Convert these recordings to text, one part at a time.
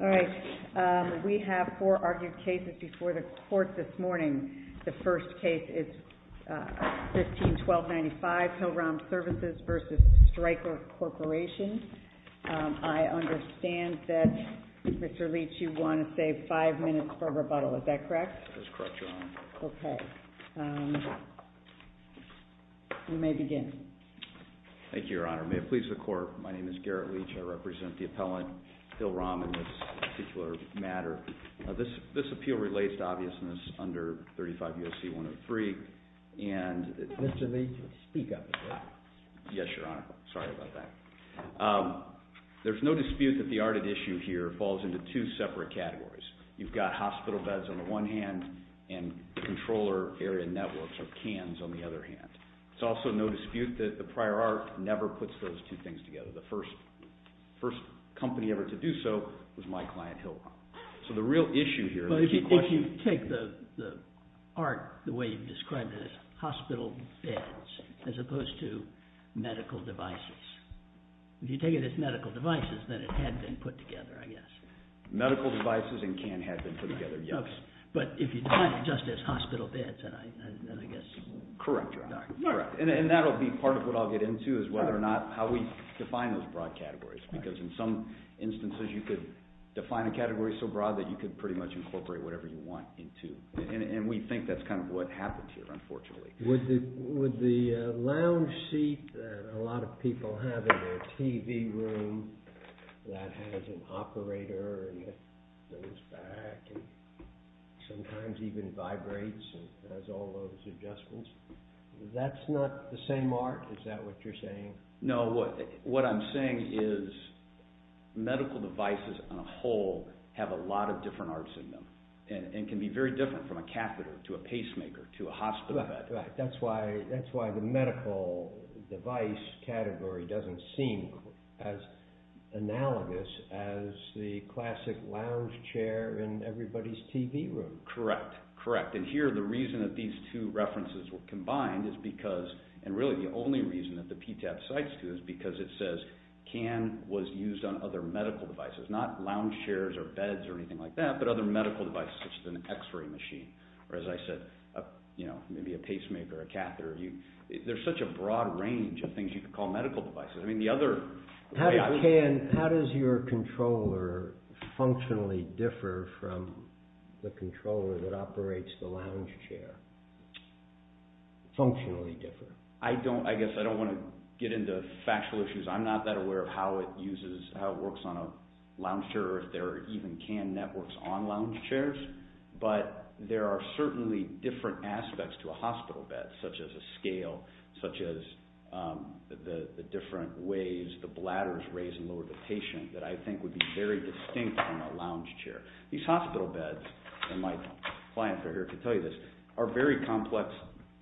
All right. We have four argued cases before the Court this morning. The first case is 15-1295, Hill-Rom Services v. Stryker Corporation. I understand that, Mr. Leach, you want to save five minutes for rebuttal. Is that correct? That's correct, Your Honor. Okay. You may begin. Thank you, Your Honor. May it please the Court, my name is Garrett Leach. I represent the appellant, Hill-Rom, in this particular matter. This appeal relates to obviousness under 35 U.S.C. 103. Mr. Leach, speak up a bit. Yes, Your Honor. Sorry about that. There's no dispute that the art at issue here falls into two separate categories. You've got hospital beds on the one hand and controller area networks, or CANs, on the other hand. There's also no dispute that the prior art never puts those two things together. The first company ever to do so was my client, Hill-Rom. So the real issue here is that the question Well, if you take the art the way you've described it as hospital beds as opposed to medical devices, if you take it as medical devices, then it had been put together, I guess. Medical devices and CAN had been put together, yes. But if you define it just as hospital beds, then I guess Correct, Your Honor. And that'll be part of what I'll get into is whether or not how we define those broad categories because in some instances you could define a category so broad that you could pretty much incorporate whatever you want into it. And we think that's kind of what happens here, unfortunately. Would the lounge seat that a lot of people have in their TV room that has an operator and it goes back and sometimes even vibrates and has all those adjustments, that's not the same art? Is that what you're saying? No, what I'm saying is medical devices on a whole have a lot of different arts in them and can be very different from a catheter to a pacemaker to a hospital bed. That's why the medical device category doesn't seem as analogous as the classic lounge chair in everybody's TV room. Correct, correct. And here the reason that these two references were combined is because, and really the only reason that the PTAP cites two is because it says CAN was used on other medical devices, not lounge chairs or beds or anything like that, but other medical devices such as an x-ray machine or as I said, maybe a pacemaker, a catheter. There's such a broad range of things you could call medical devices. How does your controller functionally differ from the controller that operates the lounge chair? Functionally differ. I guess I don't want to get into factual issues. I'm not that aware of how it works on a lounge chair or if there are even CAN networks on lounge chairs, but there are certainly different aspects to a hospital bed such as a scale, such as the different ways the bladders raise and lower the patient that I think would be very distinct from a lounge chair. These hospital beds, and my client here can tell you this, are very complex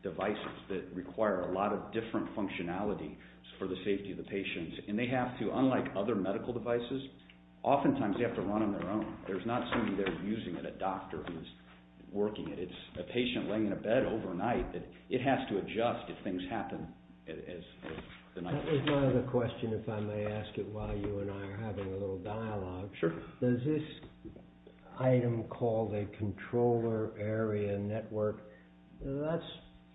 devices that require a lot of different functionality for the safety of the patients, and they have to, unlike other medical devices, oftentimes they have to run on their own. There's not somebody there using it, a doctor who's working it. It's a patient laying in a bed overnight. It has to adjust if things happen. That was my other question if I may ask it while you and I are having a little dialogue. Does this item called a controller area network, that's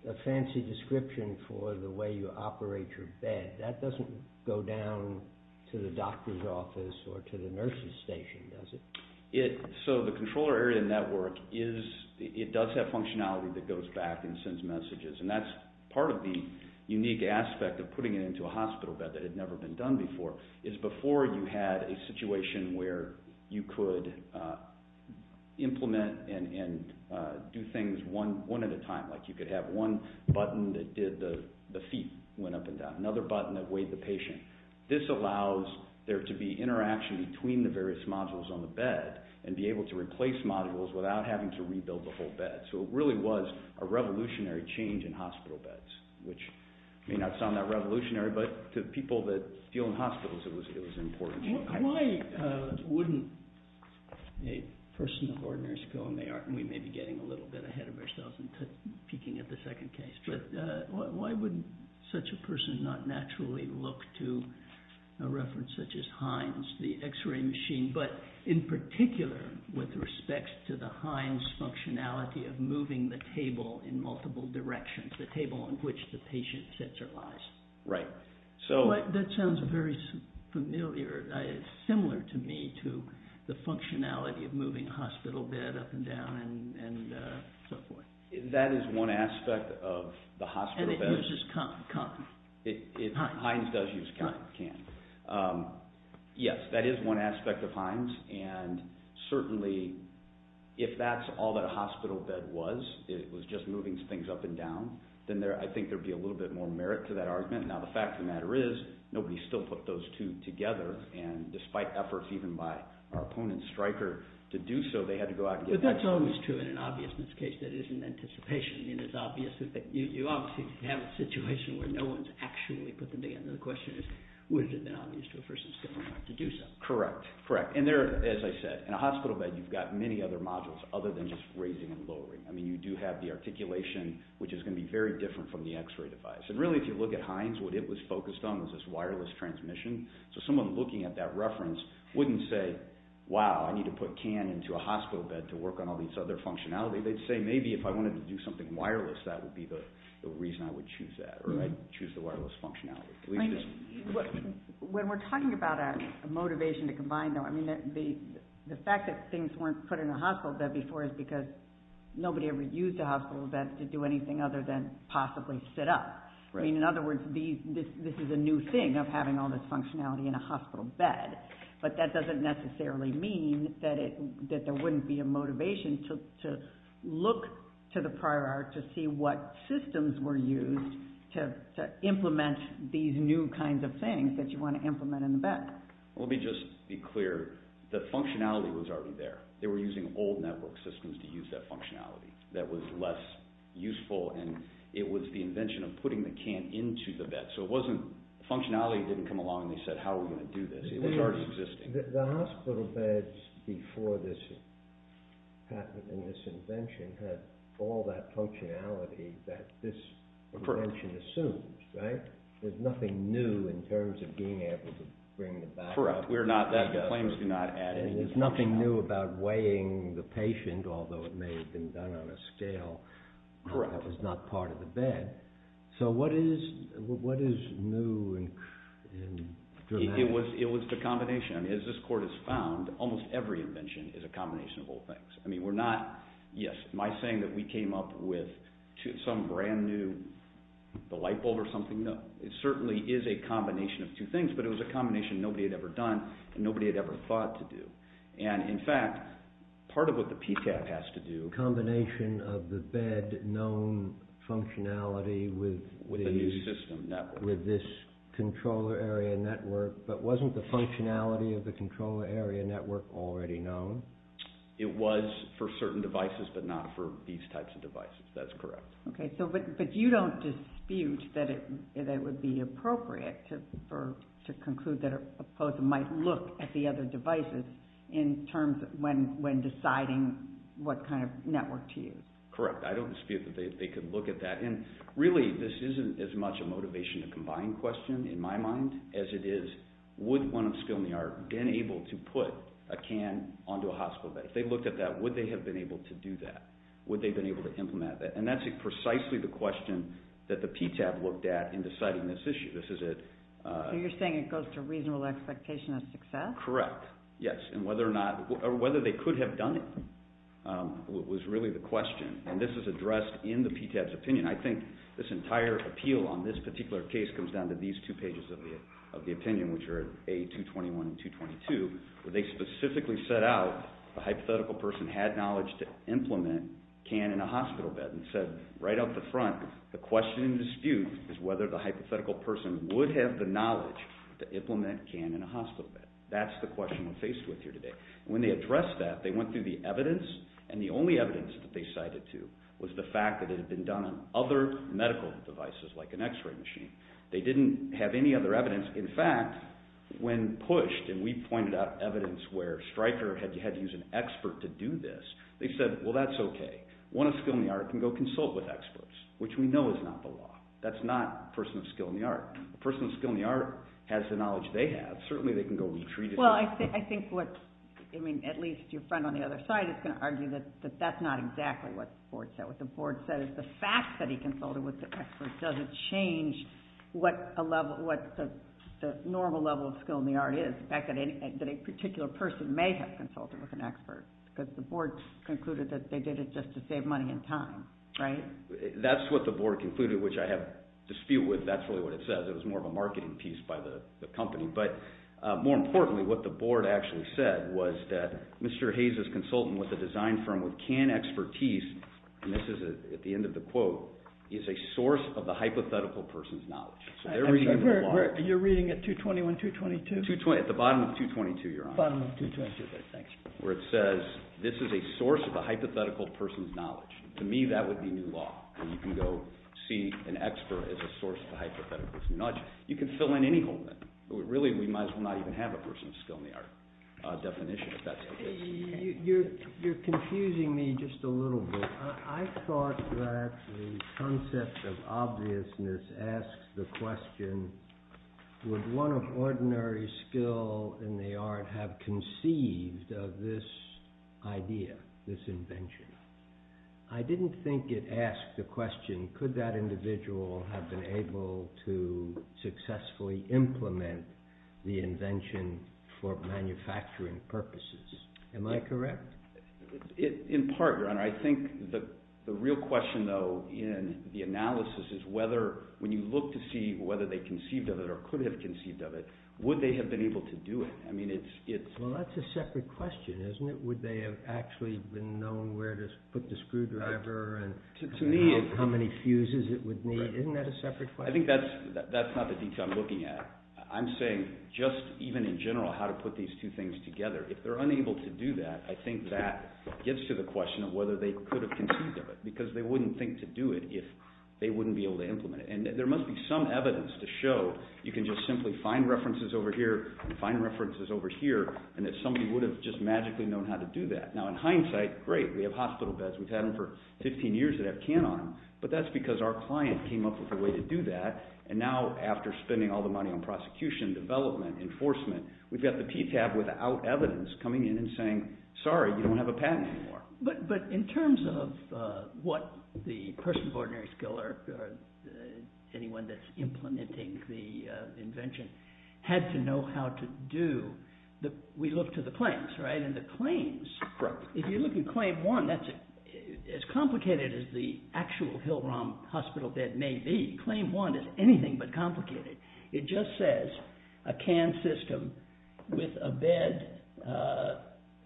a fancy description for the way you operate your bed. That doesn't go down to the doctor's office or to the nurse's station, does it? The controller area network does have functionality that goes back and sends messages, and that's part of the unique aspect of putting it into a hospital bed that had never been done before, is before you had a situation where you could implement and do things one at a time. Like you could have one button that did the feet went up and down, another button that weighed the patient. This allows there to be interaction between the various modules on the bed and be able to replace modules without having to rebuild the whole bed. So it really was a revolutionary change in hospital beds, which may not sound that revolutionary, but to people that deal in hospitals it was important. Why wouldn't a person of ordinary skill, and we may be getting a little bit ahead of ourselves and peeking at the second case, but why wouldn't such a person not naturally look to a reference such as Hines, the x-ray machine, but in particular with respect to the Hines functionality of moving the table in multiple directions, the table on which the patient sits or lies. That sounds very familiar, similar to me, to the functionality of moving a hospital bed up and down and so forth. That is one aspect of the hospital bed. And it uses cotton. Hines does use cotton, yes, that is one aspect of Hines, and certainly if that's all that a hospital bed was, it was just moving things up and down, then I think there would be a little bit more merit to that argument. Now the fact of the matter is, nobody still put those two together, and despite efforts even by our opponent, Stryker, to do so, they had to go out and get them. But that's always true in an obviousness case that isn't anticipation. You obviously have a situation where no one's actually put them together. The question is, would it have been obvious to a person to do so? Correct, correct. And there, as I said, in a hospital bed you've got many other modules other than just raising and lowering. I mean, you do have the articulation, which is going to be very different from the x-ray device. And really, if you look at Hines, what it was focused on was this wireless transmission. So someone looking at that reference wouldn't say, wow, I need to put CAN into a hospital bed to work on all these other functionalities. They'd say, maybe if I wanted to do something wireless, that would be the reason I would choose that, or I'd choose the wireless functionality. When we're talking about a motivation to combine them, the fact that things weren't put in a hospital bed before is because nobody ever used a hospital bed to do anything other than possibly sit up. In other words, this is a new thing of having all this functionality in a hospital bed. But that doesn't necessarily mean that there wouldn't be a motivation to look to the prior art to see what systems were used to implement these new kinds of things that you want to implement in the bed. Let me just be clear. The functionality was already there. They were using old network systems to use that functionality that was less useful, and it was the invention of putting the CAN into the bed. So functionality didn't come along and they said, how are we going to do this? It was already existing. The hospital beds before this patent and this invention had all that functionality that this invention assumes. There's nothing new in terms of being able to bring it back up. Correct. The claims do not add anything. There's nothing new about weighing the patient, although it may have been done on a scale that was not part of the bed. So what is new and dramatic? It was the combination. As this court has found, almost every invention is a combination of old things. Yes, my saying that we came up with some brand new light bulb or something, no. It certainly is a combination of two things, but it was a combination nobody had ever done and nobody had ever thought to do. In fact, part of what the PTAC has to do… Combination of the bed known functionality with this controller area network, but wasn't the functionality of the controller area network already known? It was for certain devices, but not for these types of devices. That's correct. But you don't dispute that it would be appropriate to conclude that a person might look at the other devices when deciding what kind of network to use. Correct. I don't dispute that they could look at that. Really, this isn't as much a motivation to combine question in my mind as it is, would one of skill in the art have been able to put a can onto a hospital bed? If they looked at that, would they have been able to do that? Would they have been able to implement that? That's precisely the question that the PTAC looked at in deciding this issue. You're saying it goes to reasonable expectation of success? Correct, yes. Whether they could have done it was really the question, and this is addressed in the PTAC's opinion. I think this entire appeal on this particular case comes down to these two pages of the opinion, which are A221 and 222, where they specifically set out the hypothetical person had knowledge to implement a can in a hospital bed, and said right off the front, the question in dispute is whether the hypothetical person would have the knowledge to implement a can in a hospital bed. That's the question we're faced with here today. When they addressed that, they went through the evidence, and the only evidence that they cited to was the fact that it had been done on other medical devices, like an x-ray machine. They didn't have any other evidence. In fact, when pushed, and we pointed out evidence where Stryker had to use an expert to do this, they said, well, that's okay. One of skill in the art can go consult with experts, which we know is not the law. That's not a person of skill in the art. A person of skill in the art has the knowledge they have. Certainly they can go retreat it. Well, I think at least your friend on the other side is going to argue that that's not exactly what the board said. What the board said is the fact that he consulted with the expert doesn't change what the normal level of skill in the art is. In fact, a particular person may have consulted with an expert because the board concluded that they did it just to save money and time, right? That's what the board concluded, which I have dispute with. That's really what it says. It was more of a marketing piece by the company. But more importantly, what the board actually said was that Mr. Hayes' consultant with a design firm with canned expertise, and this is at the end of the quote, is a source of the hypothetical person's knowledge. So they're reading the law. You're reading at 221, 222? At the bottom of 222, Your Honor. Bottom of 222. Okay, thanks. Where it says this is a source of the hypothetical person's knowledge. To me, that would be new law. You can go see an expert as a source of the hypothetical person's knowledge. You can fill in any hole in it. Really, we might as well not even have a person's skill in the art definition, if that's the case. You're confusing me just a little bit. I thought that the concept of obviousness asks the question, would one of ordinary skill in the art have conceived of this idea, this invention? I didn't think it asked the question, could that individual have been able to successfully implement the invention for manufacturing purposes? Am I correct? In part, Your Honor. I think the real question, though, in the analysis is whether, when you look to see whether they conceived of it or could have conceived of it, would they have been able to do it? Well, that's a separate question, isn't it? Would they have actually been known where to put the screwdriver and how many fuses it would need? Isn't that a separate question? I think that's not the detail I'm looking at. I'm saying just even in general how to put these two things together. If they're unable to do that, I think that gets to the question of whether they could have conceived of it, because they wouldn't think to do it if they wouldn't be able to implement it. And there must be some evidence to show you can just simply find references over here, find references over here, and that somebody would have just magically known how to do that. Now, in hindsight, great, we have hospital beds. We've had them for 15 years that have can on them, but that's because our client came up with a way to do that, and now after spending all the money on prosecution, development, enforcement, we've got the PTAB without evidence coming in and saying, sorry, you don't have a patent anymore. But in terms of what the person of ordinary skill or anyone that's implementing the invention had to know how to do, we look to the claims, right? And the claims, if you look at claim one, that's as complicated as the actual Hill-Rom Hospital bed may be. Claim one is anything but complicated. It just says a can system with a bed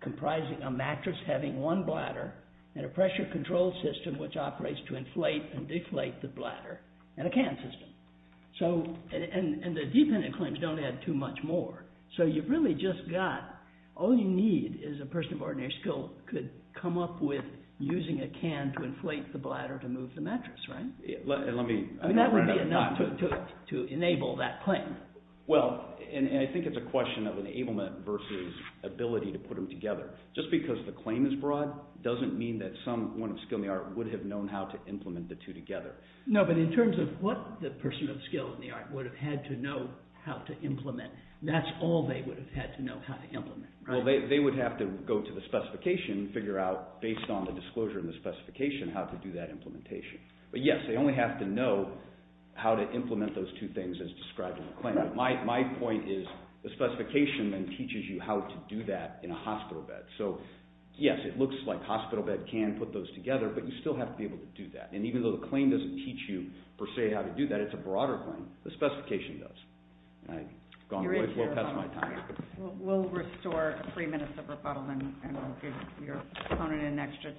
comprising a mattress having one bladder, and a pressure control system which operates to inflate and deflate the bladder, and a can system. And the dependent claims don't add too much more. So you've really just got, all you need is a person of ordinary skill could come up with using a can to inflate the bladder to move the mattress, right? And that would be enough to enable that claim. Well, and I think it's a question of enablement versus ability to put them together. Just because the claim is broad doesn't mean that someone of skill in the art would have known how to implement the two together. No, but in terms of what the person of skill in the art would have had to know how to implement, that's all they would have had to know how to implement, right? Well, they would have to go to the specification and figure out, based on the disclosure in the specification, how to do that implementation. But yes, they only have to know how to implement those two things as described in the claim. My point is the specification then teaches you how to do that in a hospital bed. So yes, it looks like hospital bed can put those together, but you still have to be able to do that. And even though the claim doesn't teach you per se how to do that, it's a broader claim. The specification does. I've gone way past my time. We'll restore three minutes of rebuttal, and we'll give your opponent an extra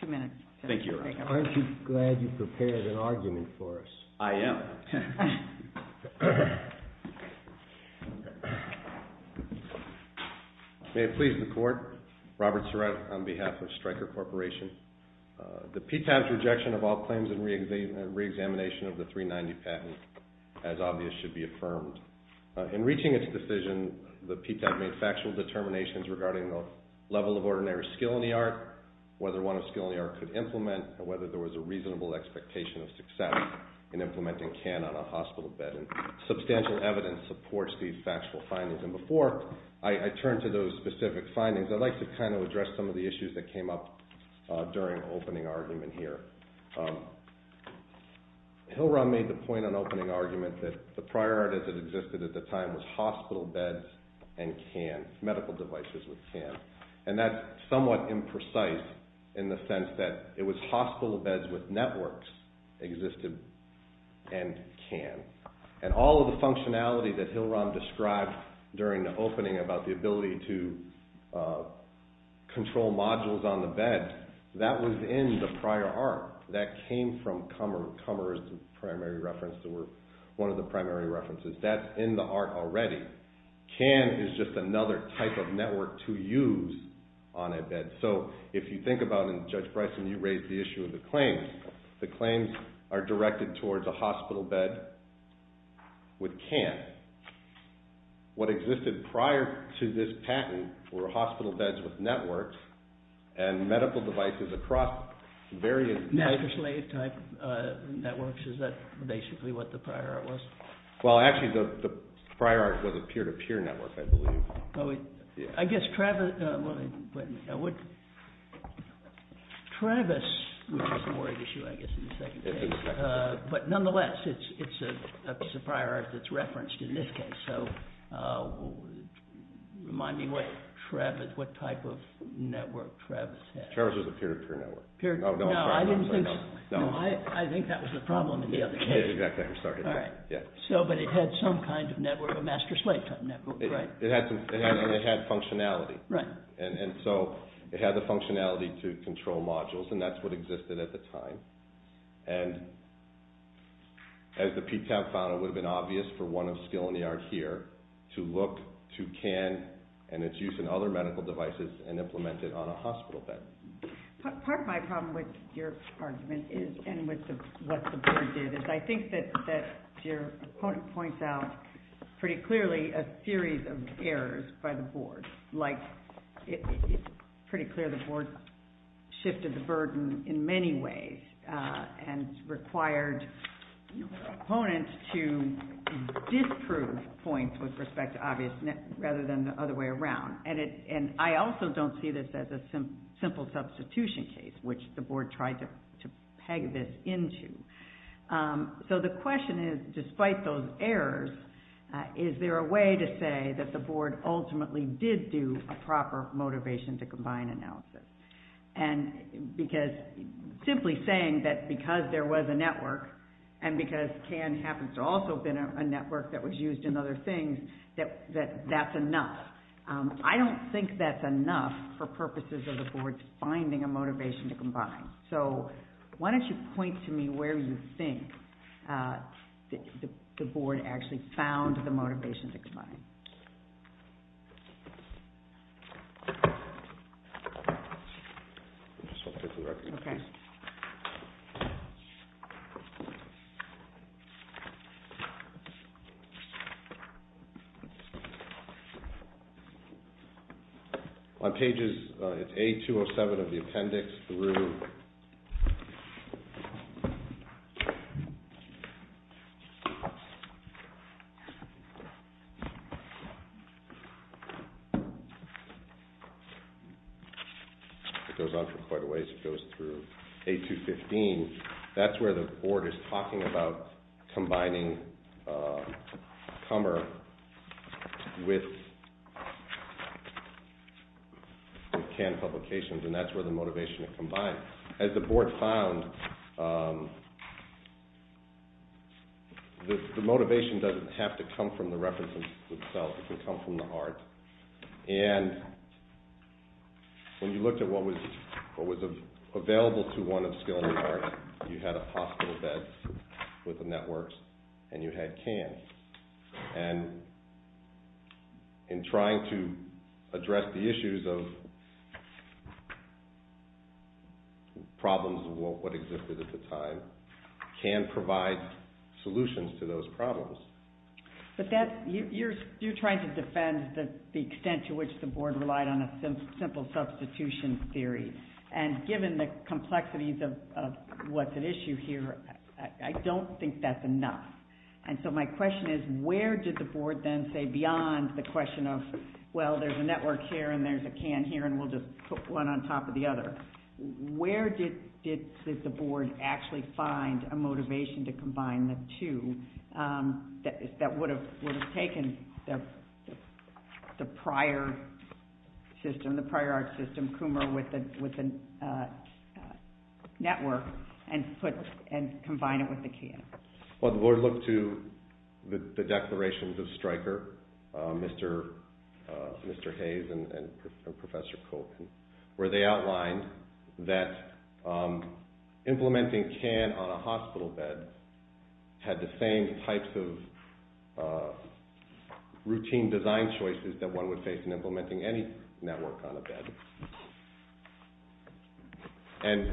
two minutes. Thank you, Your Honor. Aren't you glad you prepared an argument for us? I am. May it please the Court, Robert Surratt on behalf of Stryker Corporation. The PTAB's rejection of all claims in reexamination of the 390 patent, as obvious, should be affirmed. In reaching its decision, the PTAB made factual determinations regarding the level of ordinary skill in the art, whether one of skill in the art could implement, and whether there was a reasonable expectation of success in implementing CAN on a hospital bed. Substantial evidence supports these factual findings. And before I turn to those specific findings, I'd like to kind of address some of the issues that came up during opening argument here. Hillrun made the point on opening argument that the priority that existed at the time was hospital beds and CAN, medical devices with CAN. And that's somewhat imprecise in the sense that it was hospital beds with networks existed and CAN. And all of the functionality that Hillrun described during the opening about the ability to control modules on the bed, that was in the prior art. That came from Kummer. Kummer is the primary reference, or one of the primary references. That's in the art already. CAN is just another type of network to use on a bed. So if you think about it, and Judge Bryson, you raised the issue of the claims, the claims are directed towards a hospital bed with CAN. What existed prior to this patent were hospital beds with networks and medical devices across various types. Networks, is that basically what the prior art was? Well, actually, the prior art was a peer-to-peer network, I believe. I guess Travis, which is a more of an issue, I guess, in the second case. But nonetheless, it's a prior art that's referenced in this case. So remind me what type of network Travis had. Travis was a peer-to-peer network. No, I didn't think so. I think that was the problem in the other case. But it had some kind of network, a master-slave type network, right? It had functionality. And so it had the functionality to control modules, and that's what existed at the time. And as the peak time found it would have been obvious for one of skill in the art here to look to CAN and its use in other medical devices and implement it on a hospital bed. Part of my problem with your argument is, and what the board did, is I think that your opponent points out pretty clearly a series of errors by the board. Like it's pretty clear the board shifted the burden in many ways and required opponents to disprove points with respect to obvious net rather than the other way around. And I also don't see this as a simple substitution case, which the board tried to peg this into. So the question is, despite those errors, is there a way to say that the board ultimately did do a proper motivation to combine analysis? And because simply saying that because there was a network and because CAN happens to also have been a network that was used in other things, that that's enough. I don't think that's enough for purposes of the board finding a motivation to combine. So why don't you point to me where you think the board actually found the motivation to combine. On pages A-207 of the appendix through It goes on for quite a ways. It goes through A-215. That's where the board is talking about combining Kummer with CAN publications, and that's where the motivation to combine. As the board found, the motivation doesn't have to come from the references themselves. It can come from the art. And when you looked at what was available to one of skill in the art, you had a hospital bed with a network and you had CAN. And in trying to address the issues of problems of what existed at the time, CAN provides solutions to those problems. But you're trying to defend the extent to which the board relied on a simple substitution theory. And given the complexities of what's at issue here, I don't think that's enough. And so my question is, where did the board then say beyond the question of, well, there's a network here and there's a CAN here and we'll just put one on top of the other. Where did the board actually find a motivation to combine the two that would have taken the prior system, the prior art system, Kummer, with the network and combine it with the CAN? Well, the board looked to the declarations of Stryker, Mr. Hayes and Professor Kolkin, where they outlined that implementing CAN on a hospital bed had the same types of routine design choices that one would face in implementing any network on a bed.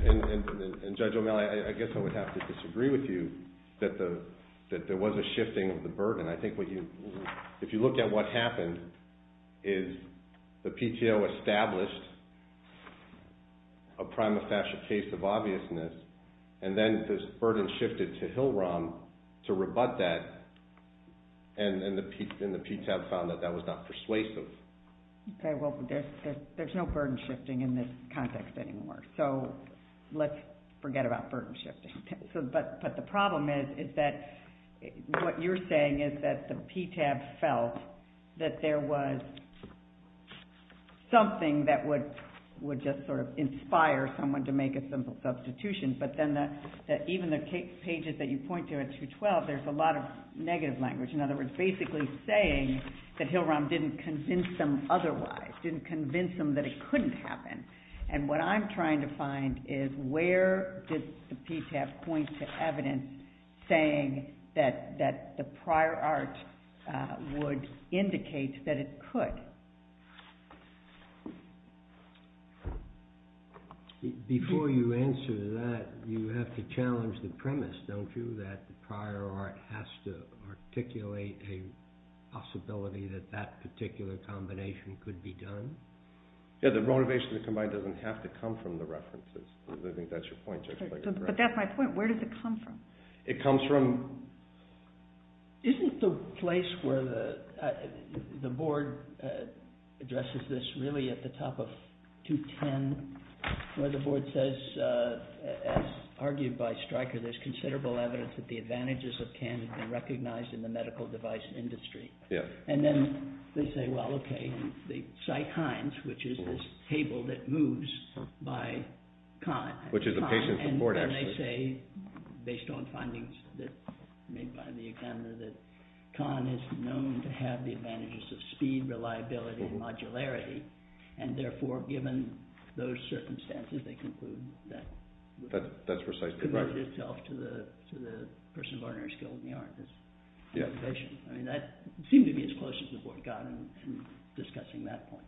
And Judge O'Malley, I guess I would have to disagree with you that there was a shifting of the burden. I think if you looked at what happened is the PTO established a prima facie case of obviousness and then this burden shifted to Hill-Rom to rebut that and the PTAB found that that was not persuasive. Okay, well, there's no burden shifting in this context anymore, so let's forget about burden shifting. But the problem is that what you're saying is that the PTAB felt that there was something that would just sort of inspire someone to make a simple substitution, but then even the pages that you point to at 212, there's a lot of negative language. In other words, basically saying that Hill-Rom didn't convince them otherwise, didn't convince them that it couldn't happen. And what I'm trying to find is where did the PTAB point to evidence saying that the prior art would indicate that it could? Before you answer that, you have to challenge the premise, don't you, that the prior art has to articulate a possibility that that particular combination could be done? Yeah, the renovation of the combine doesn't have to come from the references. I think that's your point. But that's my point. Where does it come from? It comes from... Isn't the place where the board addresses this really at the top of 210, where the board says, as argued by Stryker, there's considerable evidence that the advantages of CAN have been recognized in the medical device industry? Yeah. And then they say, well, okay, they cite HINES, which is this table that moves by CON. Which is a patient support, actually. And they say, based on findings made by the examiner, that CON is known to have the advantages of speed, reliability, and modularity. And therefore, given those circumstances, they conclude that... That's precisely right. ...it's committed itself to the person of ordinary skill in the art. Yeah. I mean, that seemed to be as close as the board got in discussing that point.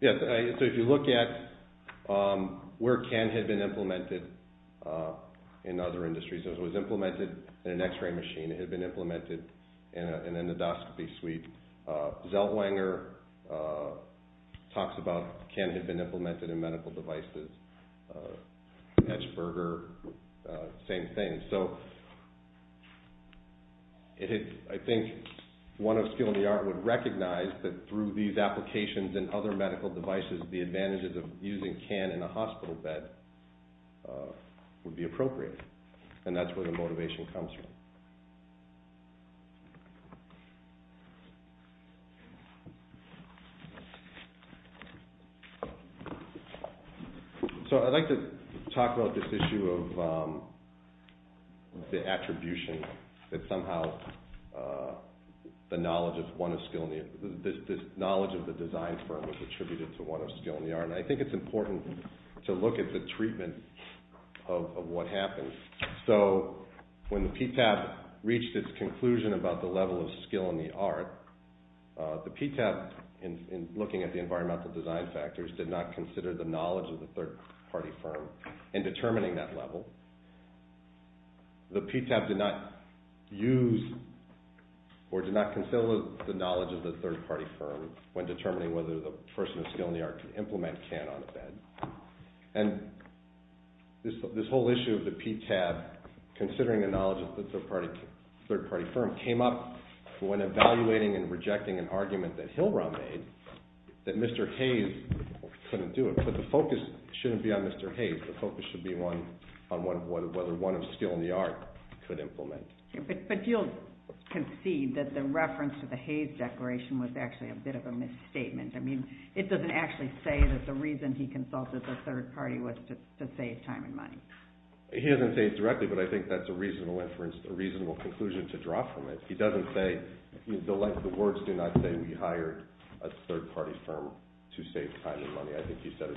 Yeah. So if you look at where CAN had been implemented in other industries. It was implemented in an x-ray machine. It had been implemented in an endoscopy suite. Zeltwanger talks about CAN had been implemented in medical devices. Hatchberger, same thing. So I think one of skill in the art would recognize that through these applications and other medical devices, the advantages of using CAN in a hospital bed would be appropriate. And that's where the motivation comes from. So I'd like to talk about this issue of the attribution. That somehow the knowledge of the design firm is attributed to one of skill in the art. And I think it's important to look at the treatment of what happened. So when the PTAB reached its conclusion about the level of skill in the art, the PTAB, in looking at the environmental design factors, did not consider the knowledge of the third-party firm in determining that level. The PTAB did not use or did not consider the knowledge of the third-party firm when determining whether the person of skill in the art could implement CAN on a bed. And this whole issue of the PTAB, considering the knowledge of the third-party firm, came up when evaluating and rejecting an argument that Hillrun made that Mr. Hayes couldn't do it. But the focus shouldn't be on Mr. Hayes. The focus should be on whether one of skill in the art could implement. But you'll concede that the reference to the Hayes Declaration was actually a bit of a misstatement. I mean, it doesn't actually say that the reason he consulted the third-party was to save time and money. He doesn't say it directly, but I think that's a reasonable inference, a reasonable conclusion to draw from it. He doesn't say, the words do not say we hired a third-party firm to save time and money. I think he said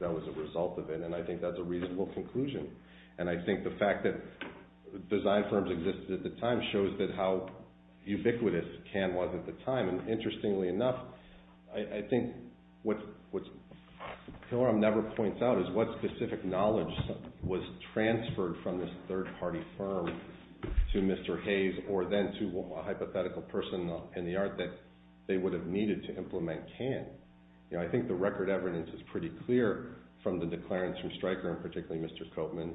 that was a result of it, and I think that's a reasonable conclusion. And I think the fact that design firms existed at the time shows that how ubiquitous CAN was at the time. And interestingly enough, I think what Hillrun never points out is what specific knowledge was transferred from this third-party firm to Mr. Hayes or then to a hypothetical person in the art that they would have needed to implement CAN. I think the record evidence is pretty clear from the declarants from Stryker, and particularly Mr. Copeman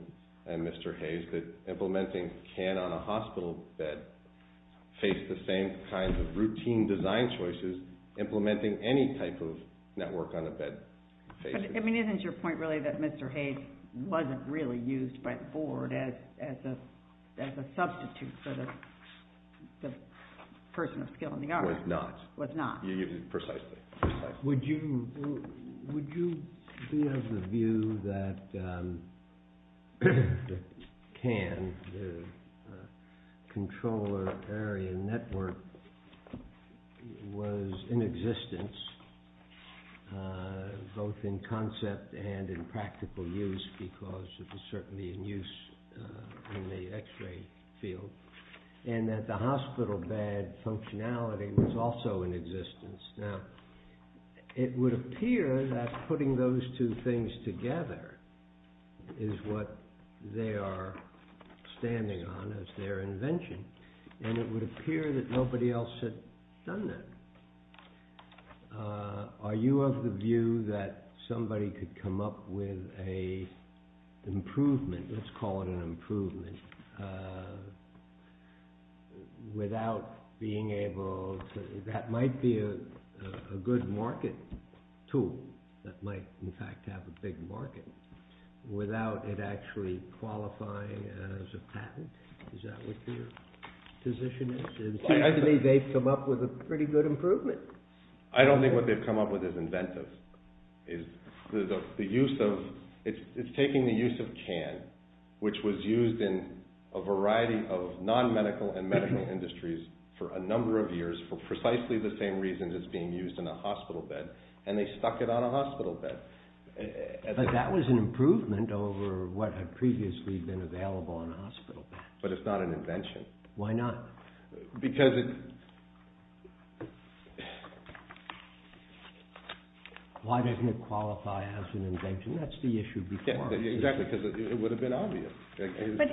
and Mr. Hayes, that implementing CAN on a hospital bed faced the same kinds of routine design choices implementing any type of network on a bed faces. I mean, isn't your point really that Mr. Hayes wasn't really used by the board as a substitute for the person of skill in the art? Was not. Was not. You get it precisely. Would you be of the view that CAN, the controller area network, was in existence both in concept and in practical use because it was certainly in use in the x-ray field, and that the hospital bed functionality was also in existence? Now, it would appear that putting those two things together is what they are standing on as their invention, and it would appear that nobody else had done that. Are you of the view that somebody could come up with an improvement, let's call it an improvement, that might be a good market tool, that might in fact have a big market, without it actually qualifying as a patent? Is that what your position is? It seems to me they've come up with a pretty good improvement. I don't think what they've come up with is inventive. It's taking the use of CAN, which was used in a variety of non-medical and medical industries for a number of years for precisely the same reasons as being used in a hospital bed, and they stuck it on a hospital bed. But that was an improvement over what had previously been available on a hospital bed. But it's not an invention. Why not? Why doesn't it qualify as an invention? That's the issue before. Exactly, because it would have been obvious. But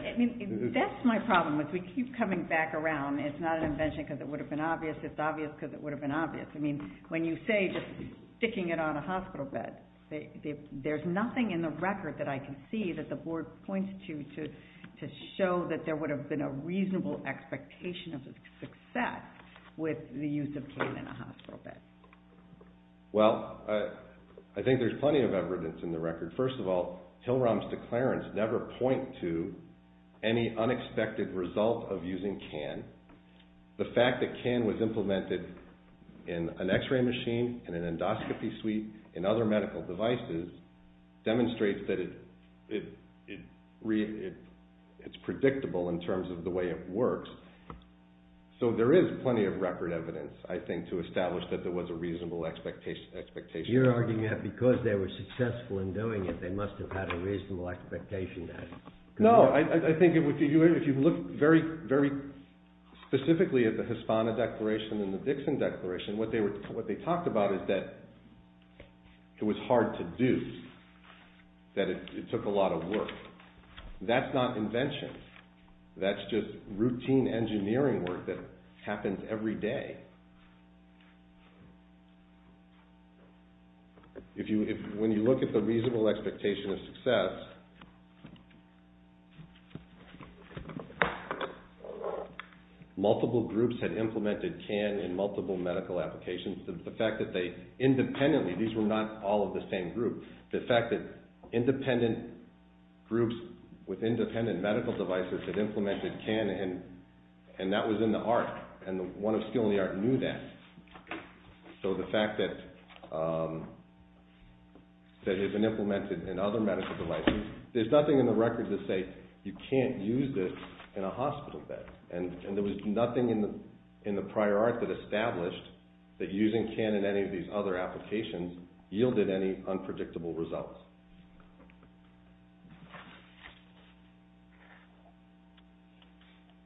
that's my problem. If we keep coming back around, it's not an invention because it would have been obvious, it's obvious because it would have been obvious. When you say sticking it on a hospital bed, there's nothing in the record that I can see that the board points to to show that there would have been a reasonable expectation of success with the use of CAN in a hospital bed. Well, I think there's plenty of evidence in the record. First of all, Hilram's declarants never point to any unexpected result of using CAN. The fact that CAN was implemented in an x-ray machine, in an endoscopy suite, in other medical devices, demonstrates that it's predictable in terms of the way it works. So there is plenty of record evidence, I think, to establish that there was a reasonable expectation. You're arguing that because they were successful in doing it, they must have had a reasonable expectation then. No, I think if you look very specifically at the Hispana Declaration and the Dixon Declaration, what they talked about is that it was hard to do, that it took a lot of work. That's not invention. That's just routine engineering work that happens every day. When you look at the reasonable expectation of success, multiple groups had implemented CAN in multiple medical applications. Independently, these were not all of the same group. The fact that independent groups with independent medical devices had implemented CAN, and that was in the art, and the one of skill in the art knew that. So the fact that it had been implemented in other medical devices, there's nothing in the record to say you can't use this in a hospital bed. And there was nothing in the prior art that established that using CAN in any of these other applications yielded any unpredictable results.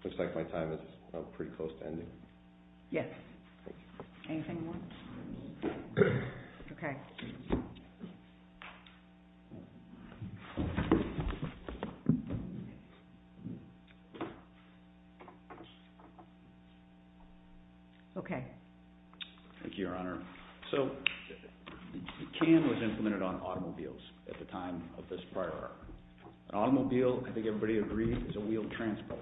Looks like my time is pretty close to ending. Yes. Anything more? Okay. Okay. Thank you, Your Honor. So CAN was implemented on automobiles at the time of this prior art. An automobile, I think everybody agrees, is a wheeled transport.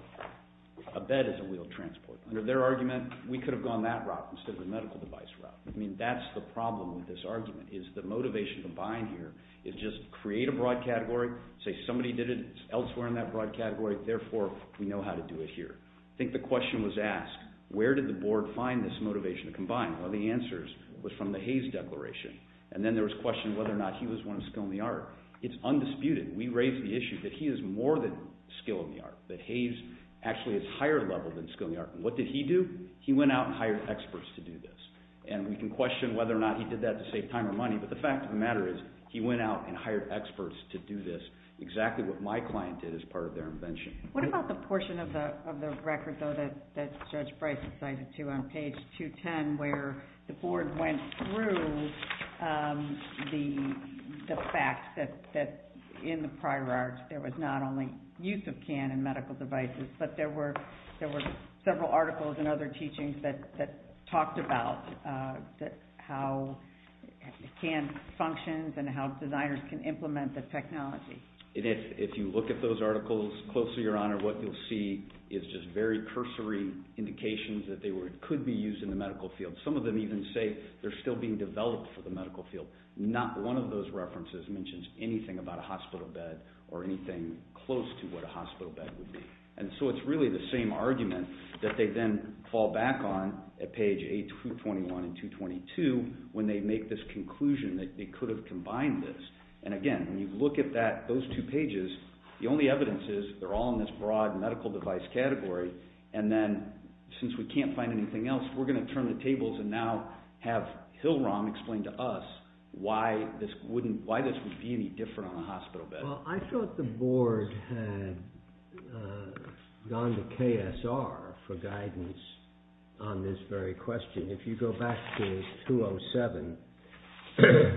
A bed is a wheeled transport. Under their argument, we could have gone that route instead of the medical device route. I mean, that's the problem with this argument, is the motivation to buy in here is just create a broad category, say somebody did it elsewhere in that broad category, therefore we know how to do it here. I think the question was asked, where did the board find this motivation to combine? One of the answers was from the Hayes Declaration. And then there was a question of whether or not he was one of skill in the art. It's undisputed. We raised the issue that he is more than skill in the art, that Hayes actually is higher level than skill in the art. And what did he do? He went out and hired experts to do this. And we can question whether or not he did that to save time or money, but the fact of the matter is he went out and hired experts to do this, exactly what my client did as part of their invention. What about the portion of the record, though, that Judge Bryce cited, too, on page 210, where the board went through the fact that in the prior art, there was not only use of CAN in medical devices, but there were several articles and other teachings that talked about how CAN functions and how designers can implement the technology. And if you look at those articles closely, Your Honor, what you'll see is just very cursory indications that they could be used in the medical field. Some of them even say they're still being developed for the medical field. Not one of those references mentions anything about a hospital bed or anything close to what a hospital bed would be. And so it's really the same argument that they then fall back on at page 221 and 222 when they make this conclusion that they could have combined this. And again, when you look at those two pages, the only evidence is they're all in this broad medical device category. And then since we can't find anything else, we're going to turn the tables and now have Hilrom explain to us why this would be any different on a hospital bed. Well, I thought the board had gone to KSR for guidance on this very question. If you go back to 207,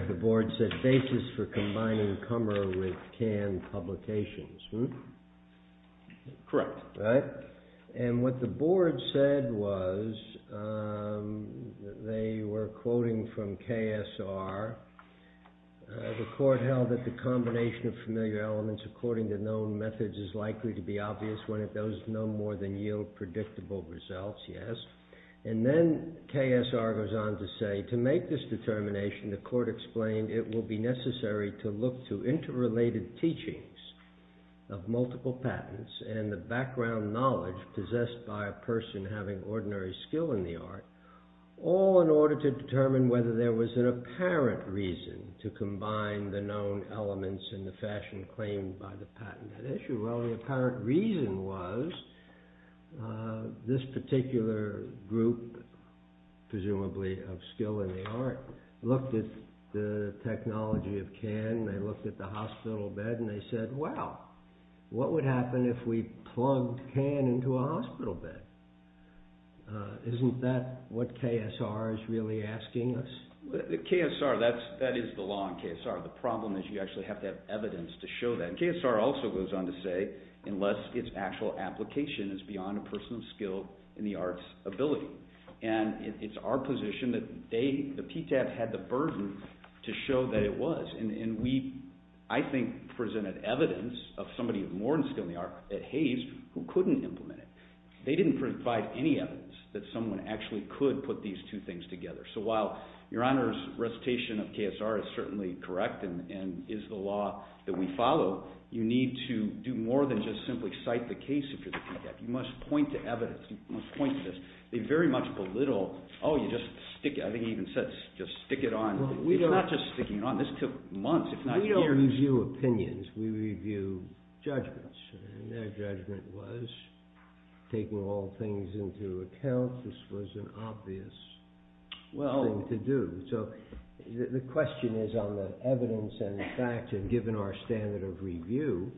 the board said basis for combining Kummer with CAN publications. Correct. And what the board said was they were quoting from KSR. The court held that the combination of familiar elements according to known methods is likely to be obvious when it does no more than yield predictable results. Yes. And then KSR goes on to say to make this determination, the court explained it will be necessary to look to interrelated teachings of multiple patents. And the background knowledge possessed by a person having ordinary skill in the art. All in order to determine whether there was an apparent reason to combine the known elements in the fashion claimed by the patent. Well, the apparent reason was this particular group, presumably of skill in the art, looked at the technology of CAN. They looked at the hospital bed and they said, well, what would happen if we plugged CAN into a hospital bed? Isn't that what KSR is really asking us? KSR, that is the law in KSR. The problem is you actually have to have evidence to show that. KSR also goes on to say unless its actual application is beyond a person's skill in the arts ability. And it's our position that the PTAP had the burden to show that it was. And we, I think, presented evidence of somebody of more skill in the art at Hays who couldn't implement it. They didn't provide any evidence that someone actually could put these two things together. So while Your Honor's recitation of KSR is certainly correct and is the law that we follow, you need to do more than just simply cite the case if you're the PTAP. You must point to evidence. You must point to this. They very much belittle, oh, you just stick it. I think he even said just stick it on. It's not just sticking it on. This took months, if not years. We don't review opinions. We review judgments. And their judgment was taking all things into account. This was an obvious thing to do. So the question is on the evidence and the facts and given our standard of review.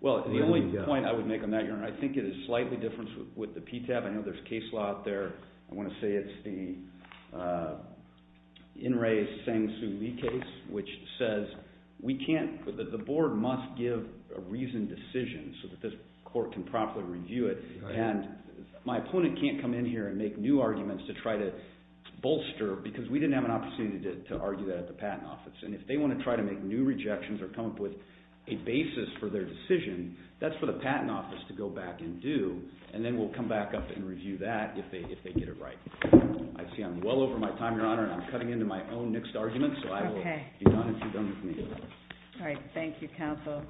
Well, the only point I would make on that, Your Honor, I think it is slightly different with the PTAP. I know there's case law out there. I want to say it's the In Re Sang Su Lee case, which says the board must give a reasoned decision so that this court can properly review it. And my opponent can't come in here and make new arguments to try to bolster because we didn't have an opportunity to argue that at the Patent Office. And if they want to try to make new rejections or come up with a basis for their decision, that's for the Patent Office to go back and do. And then we'll come back up and review that if they get it right. I see I'm well over my time, Your Honor, and I'm cutting into my own mixed arguments. So I will be done if you're done with me. All right. Thank you, counsel.